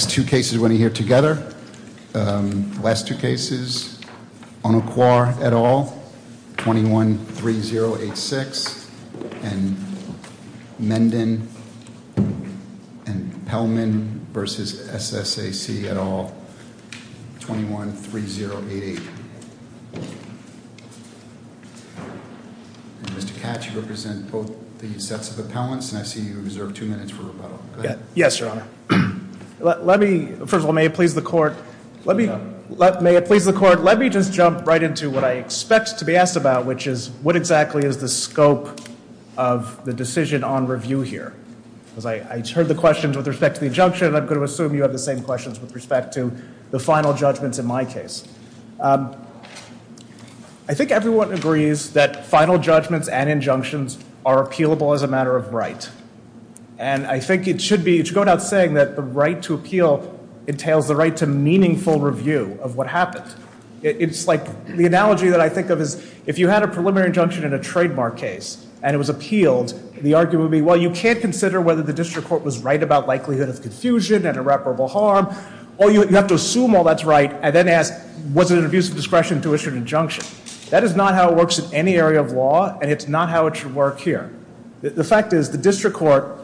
The next two cases we're going to hear together, the last two cases, Onoquar et al, 21-3086, and Mendon and Pellman v. SSAC et al, 21-3088 Mr. Katz, you represent both the sets of appellants. And I see you have reserved two minutes for rebuttal, go ahead. Yes, Your Honor. Let me, first of all, may it please the court, let me, may it please the court, let me just jump right into what I expect to be asked about, which is, what exactly is the scope of the decision on review here? Because I heard the questions with respect to the injunction, and I'm going to assume you have the same questions with respect to the final judgments in my case. I think everyone agrees that final judgments and injunctions are appealable as a matter of right. And I think it should be, it should go without saying that the right to appeal entails the right to meaningful review of what happened. It's like, the analogy that I think of is, if you had a preliminary injunction in a trademark case, and it was appealed, the argument would be, well, you can't consider whether the district court was right about likelihood of confusion and irreparable harm, or you have to assume all that's right, and then ask, was it an abuse of discretion to issue an injunction? That is not how it works in any area of law, and it's not how it should work here. The fact is, the district court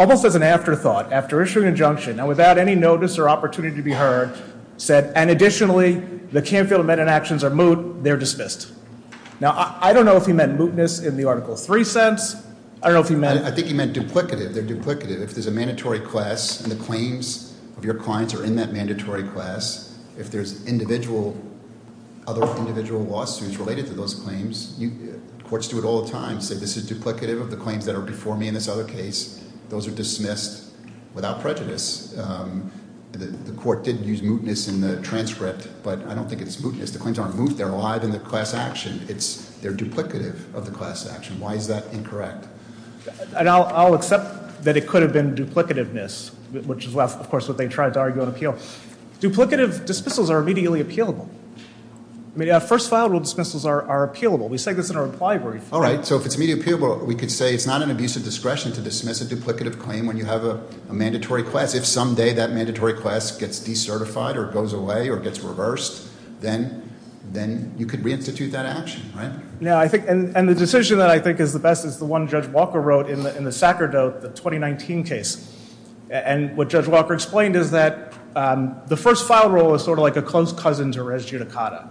almost as an afterthought, after issuing an injunction, and without any notice or opportunity to be heard, said, and additionally, the Canfield amended actions are moot, they're dismissed. Now, I don't know if he meant mootness in the Article 3 sense, I don't know if he meant- I think he meant duplicative, they're duplicative. If there's a mandatory class, and the claims of your clients are in that mandatory class, if there's other individual lawsuits related to those claims, courts do it all the time, say this is duplicative of the claims that are before me in this other case, those are dismissed without prejudice. The court did use mootness in the transcript, but I don't think it's mootness. The claims aren't moot, they're alive in the class action, they're duplicative of the class action. Why is that incorrect? And I'll accept that it could have been duplicativeness, which is, of course, what they tried to argue on appeal. Duplicative dismissals are immediately appealable. I mean, yeah, first file rule dismissals are appealable. We say this in our reply brief. All right, so if it's immediately appealable, we could say it's not an abuse of discretion to dismiss a duplicative claim when you have a mandatory class. If someday that mandatory class gets decertified or goes away or gets reversed, then you could re-institute that action, right? Now, I think, and the decision that I think is the best is the one Judge Walker wrote in the Sacerdote, the 2019 case. And what Judge Walker explained is that the first file rule is sort of like a close cousin to res judicata,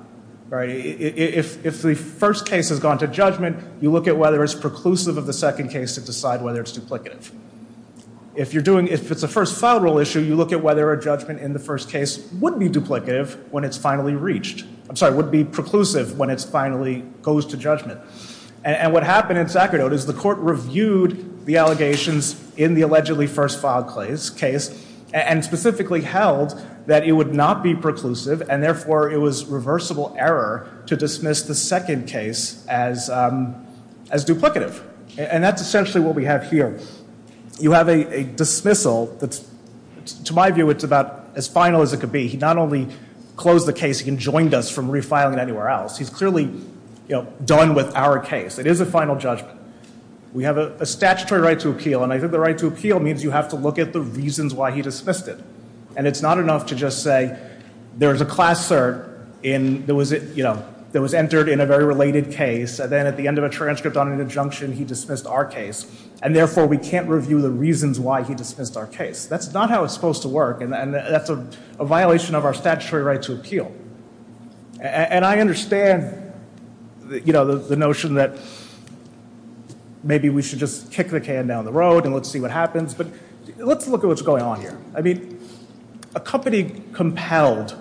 right? If the first case has gone to judgment, you look at whether it's preclusive of the second case to decide whether it's duplicative. If you're doing, if it's a first file rule issue, you look at whether a judgment in the first case would be duplicative when it's finally reached. I'm sorry, would be preclusive when it finally goes to judgment. And what happened in Sacerdote is the court reviewed the allegations in the allegedly first filed case. And specifically held that it would not be preclusive, and therefore it was reversible error to dismiss the second case as duplicative. And that's essentially what we have here. You have a dismissal that's, to my view, it's about as final as it could be. He not only closed the case, he enjoined us from refiling anywhere else. He's clearly done with our case. It is a final judgment. We have a statutory right to appeal, and I think the right to appeal means you have to look at the reasons why he dismissed it. And it's not enough to just say, there was a class cert that was entered in a very related case. And then at the end of a transcript on an injunction, he dismissed our case. And therefore, we can't review the reasons why he dismissed our case. That's not how it's supposed to work, and that's a violation of our statutory right to appeal. And I understand the notion that maybe we should just kick the can down the road and let's see what happens. But let's look at what's going on here. I mean, a company compelled,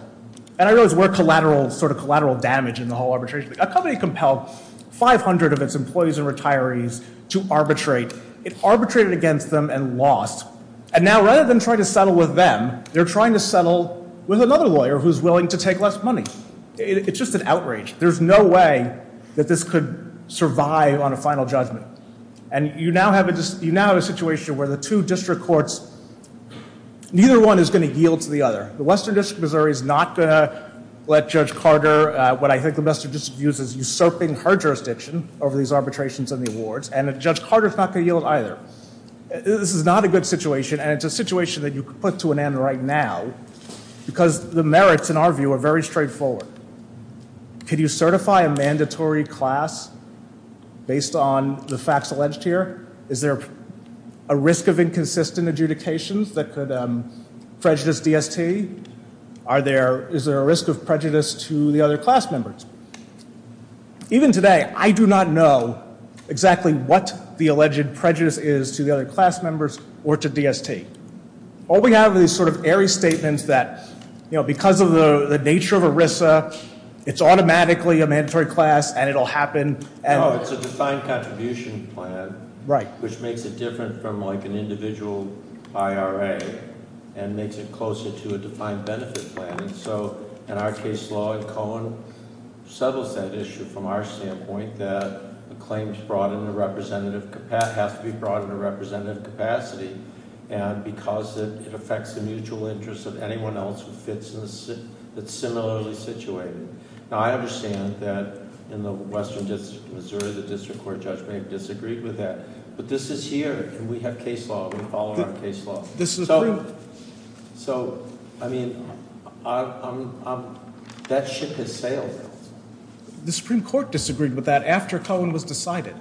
and I realize we're collateral, sort of collateral damage in the whole arbitration. A company compelled 500 of its employees and retirees to arbitrate. It arbitrated against them and lost. And now rather than trying to settle with them, they're trying to settle with another lawyer who's willing to take less money. It's just an outrage. There's no way that this could survive on a final judgment. And you now have a situation where the two district courts, neither one is going to yield to the other. The Western District of Missouri is not going to let Judge Carter, what I think the Western District views as usurping her jurisdiction over these arbitrations and the awards. And Judge Carter's not going to yield either. This is not a good situation, and it's a situation that you could put to an end right now, because the merits in our view are very straightforward. Could you certify a mandatory class based on the facts alleged here? Is there a risk of inconsistent adjudications that could prejudice DST? Is there a risk of prejudice to the other class members? Even today, I do not know exactly what the alleged prejudice is to the other class members or to DST. All we have is sort of airy statements that because of the nature of ERISA, it's automatically a mandatory class and it'll happen. And- It's a defined contribution plan. Right. Which makes it different from like an individual IRA and makes it closer to a defined benefit plan. And so, in our case law, and Cohen settles that issue from our standpoint, that a claim has to be brought in a representative capacity. And because it affects the mutual interest of anyone else who fits in, it's similarly situated. Now, I understand that in the Western District of Missouri, the district court judge may have disagreed with that. But this is here, and we have case law, we follow our case law. This is true. So, I mean, that ship has sailed. The Supreme Court disagreed with that after Cohen was decided.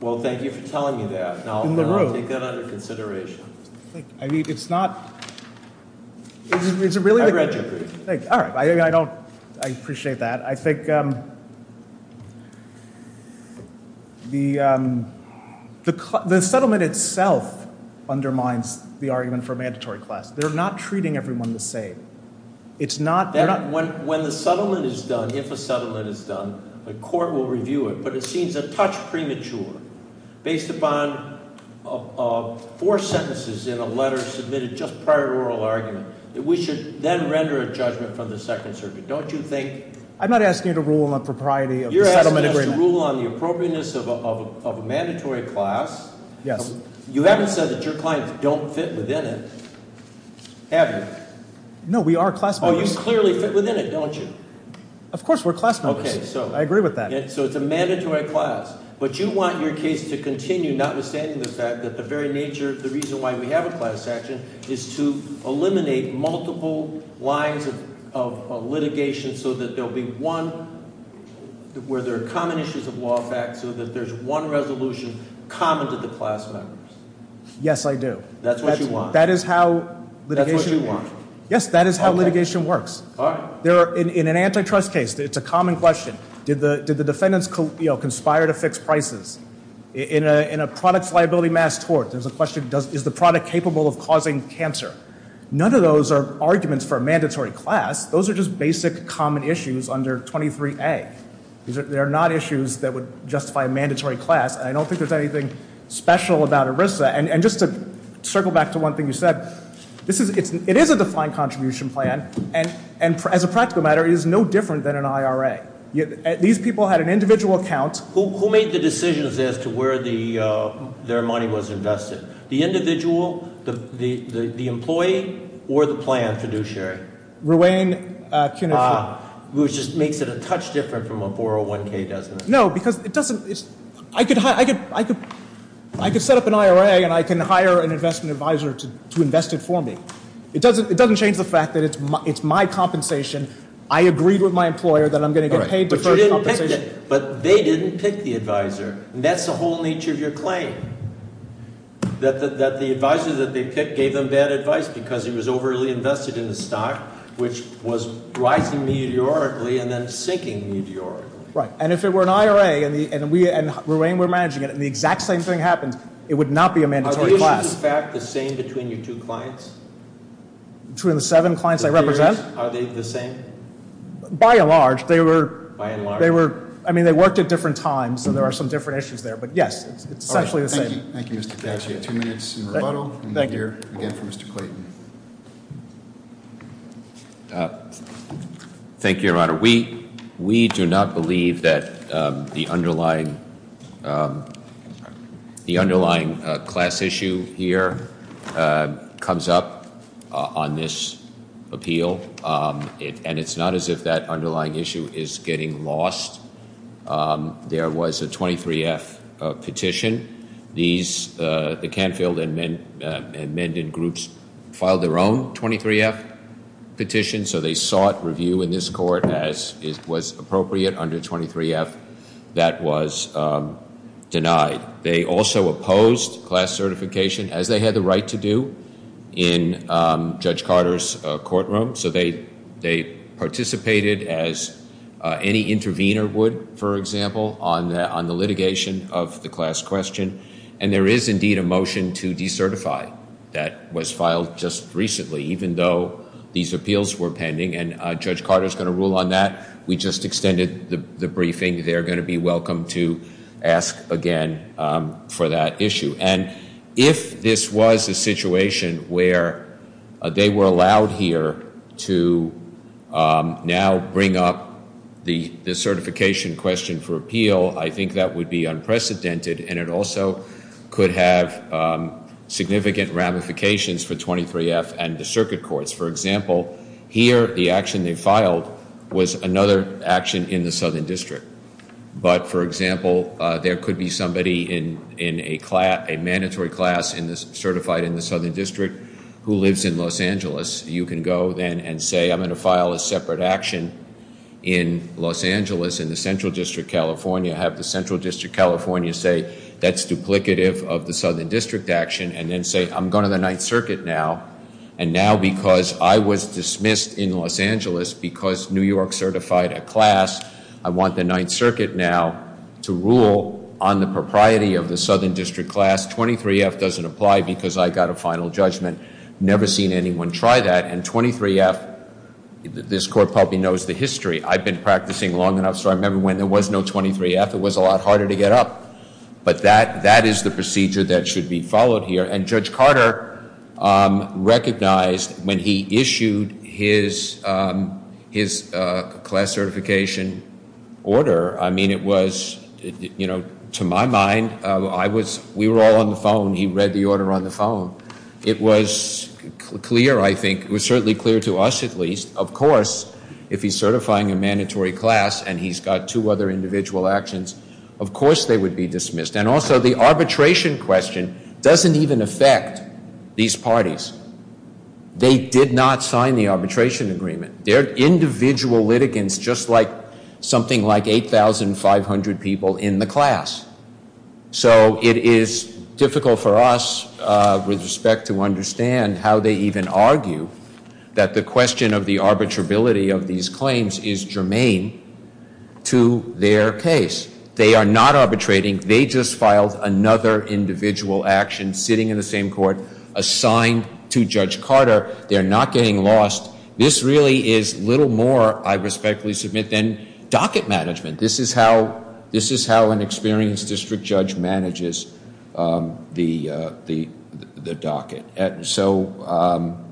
Well, thank you for telling me that. Now, I'll take that under consideration. I mean, it's not, it's a really- I read your brief. Thank you. All right, I don't, I appreciate that. I think the settlement itself undermines the argument for mandatory class. They're not treating everyone the same. It's not- When the settlement is done, if a settlement is done, the court will review it. But it seems a touch premature, based upon four sentences in a letter submitted just prior to oral argument, that we should then render a judgment from the Second Circuit. Don't you think? I'm not asking you to rule on propriety of the settlement agreement. You're asking us to rule on the appropriateness of a mandatory class. Yes. You haven't said that your clients don't fit within it, have you? No, we are class members. Well, you clearly fit within it, don't you? Of course, we're class members. Okay, so- I agree with that. So, it's a mandatory class. But you want your case to continue, notwithstanding the fact that the very nature of the reason why we have a class action is to eliminate multiple lines of litigation, so that there'll be one, where there are common issues of law fact, so that there's one resolution common to the class members. Yes, I do. That's what you want. That is how litigation- That's what you want. Yes, that is how litigation works. All right. In an antitrust case, it's a common question. Did the defendants conspire to fix prices? In a products liability mass tort, there's a question, is the product capable of causing cancer? None of those are arguments for a mandatory class. Those are just basic, common issues under 23A. They're not issues that would justify a mandatory class, and I don't think there's anything special about ERISA. And just to circle back to one thing you said, it is a defined contribution plan, and as a practical matter, it is no different than an IRA. These people had an individual account- Who made the decisions as to where their money was invested? The individual, the employee, or the plan fiduciary? Ruane Cunich. Which just makes it a touch different from a 401k, doesn't it? No, because it doesn't, I could set up an IRA, and I can hire an investment advisor to invest it for me. It doesn't change the fact that it's my compensation. I agreed with my employer that I'm going to get paid deferred compensation. But they didn't pick the advisor, and that's the whole nature of your claim. That the advisor that they picked gave them bad advice because he was overly invested in the stock, which was rising meteorically and then sinking meteorically. Right, and if it were an IRA, and Ruane were managing it, and the exact same thing happened, it would not be a mandatory class. Are the issues, in fact, the same between your two clients? Between the seven clients I represent? Are they the same? By and large, they were, I mean, they worked at different times, so there are some different issues there, but yes, it's essentially the same. Thank you, Mr. Cash. You have two minutes in rebuttal, and you're here again for Mr. Clayton. Thank you, Your Honor. We do not believe that the underlying class issue here comes up on this appeal. And it's not as if that underlying issue is getting lost. There was a 23F petition. These, the Canfield and Menden groups filed their own 23F petition, so they sought review in this court as was appropriate under 23F. That was denied. They also opposed class certification, as they had the right to do in Judge Carter's courtroom. So they participated as any intervener would, for example, on the litigation of the class question. And there is indeed a motion to decertify that was filed just recently, even though these appeals were pending. And Judge Carter's going to rule on that. We just extended the briefing. They're going to be welcome to ask again for that issue. And if this was a situation where they were allowed here to now bring up the certification question for appeal, I think that would be unprecedented. And it also could have significant ramifications for 23F and the circuit courts. For example, here, the action they filed was another action in the Southern District. But for example, there could be somebody in a mandatory class certified in the Southern District who lives in Los Angeles. You can go then and say, I'm going to file a separate action in Los Angeles, in the Central District California. Have the Central District California say, that's duplicative of the Southern District action. And then say, I'm going to the Ninth Circuit now. And now because I was dismissed in Los Angeles because New York certified a class, I want the Ninth Circuit now to rule on the propriety of the Southern District class. 23F doesn't apply because I got a final judgment. Never seen anyone try that. And 23F, this court probably knows the history. I've been practicing long enough, so I remember when there was no 23F, it was a lot harder to get up. But that is the procedure that should be followed here. And Judge Carter recognized when he issued his class certification order, I mean it was, to my mind, we were all on the phone, he read the order on the phone. It was clear, I think, it was certainly clear to us at least, of course, if he's certifying a mandatory class and he's got two other individual actions, of course they would be dismissed. And also the arbitration question doesn't even affect these parties. They did not sign the arbitration agreement. They're individual litigants just like something like 8,500 people in the class. So it is difficult for us with respect to understand how they even argue that the question of the arbitrability of these claims is germane to their case. They are not arbitrating. They just filed another individual action sitting in the same court assigned to Judge Carter. They're not getting lost. This really is little more, I respectfully submit, than docket management. This is how an experienced district judge manages the docket. So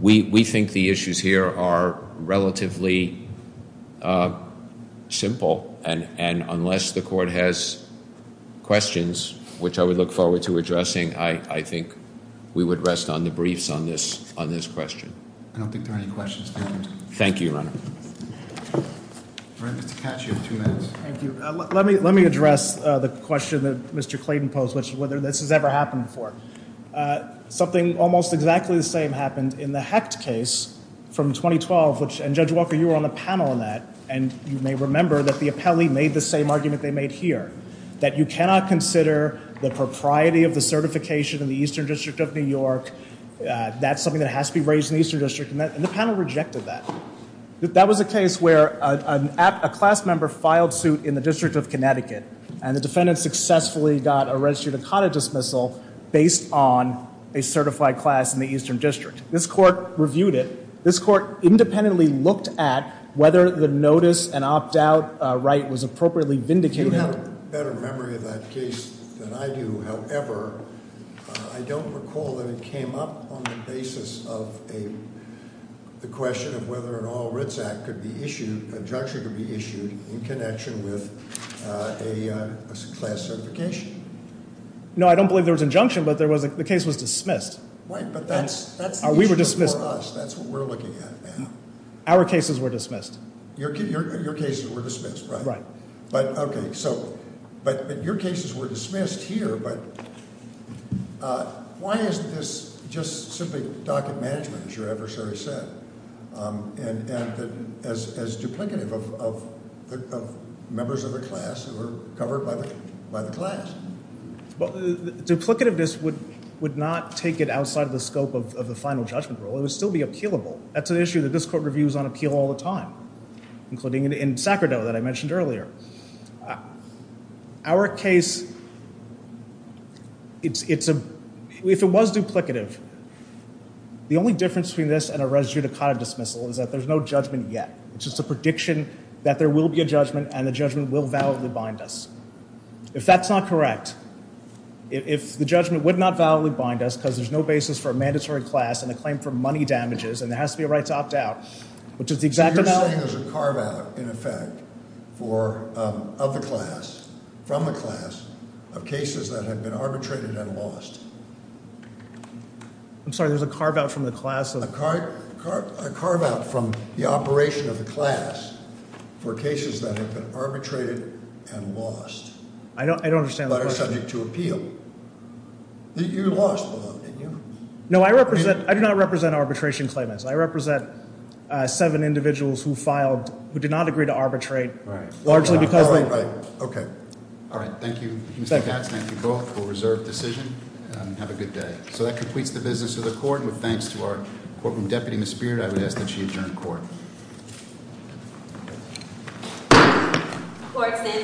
we think the issues here are relatively simple and unless the court has questions, which I would look forward to addressing, I think we would rest on the briefs on this question. I don't think there are any questions. Thank you, Your Honor. All right, Mr. Caccio, two minutes. Thank you. Let me address the question that Mr. Clayton posed, which is whether this has ever happened before. Something almost exactly the same happened in the Hecht case from 2012, and Judge Walker, you were on the panel on that. And you may remember that the appellee made the same argument they made here, that you cannot consider the propriety of the certification in the Eastern District of New York. That's something that has to be raised in the Eastern District, and the panel rejected that. That was a case where a class member filed suit in the District of Connecticut, and the defendant successfully got a registered ACADA dismissal based on a certified class in the Eastern District. This court reviewed it. This court independently looked at whether the notice and opt-out right was appropriately vindicated. You have a better memory of that case than I do. However, I don't recall that it came up on the basis of the question of whether an all writs act could be issued, an injunction could be issued, in connection with a class certification. No, I don't believe there was an injunction, but the case was dismissed. Right, but that's- We were dismissed. That's what we're looking at now. Our cases were dismissed. Your cases were dismissed, right? Right. But, okay, so, but your cases were dismissed here, but why isn't this just simply docket management, as your adversary said, and as duplicative of members of the class who were covered by the class? Well, duplicativeness would not take it outside of the scope of the final judgment rule. It would still be appealable. That's an issue that this court reviews on appeal all the time, including in Sacramento that I mentioned earlier. Our case, if it was duplicative, the only difference between this and a res judicata dismissal is that there's no judgment yet. It's just a prediction that there will be a judgment, and the judgment will validly bind us. If that's not correct, if the judgment would not validly bind us because there's no basis for a mandatory class and a claim for money damages, and there has to be a right to opt out, which is the exact amount- Of the class, from the class, of cases that have been arbitrated and lost. I'm sorry, there's a carve out from the class of- A carve out from the operation of the class for cases that have been arbitrated and lost. I don't understand the question. But are subject to appeal. You lost the vote, didn't you? No, I do not represent arbitration claimants. I represent seven individuals who filed, who did not agree to arbitrate, largely because they- Right, right, okay. All right, thank you, Mr. Katz, and thank you both for a reserved decision, and have a good day. So that completes the business of the court, and with thanks to our courtroom deputy, Ms. Beard, I would ask that she adjourn court. Court is in.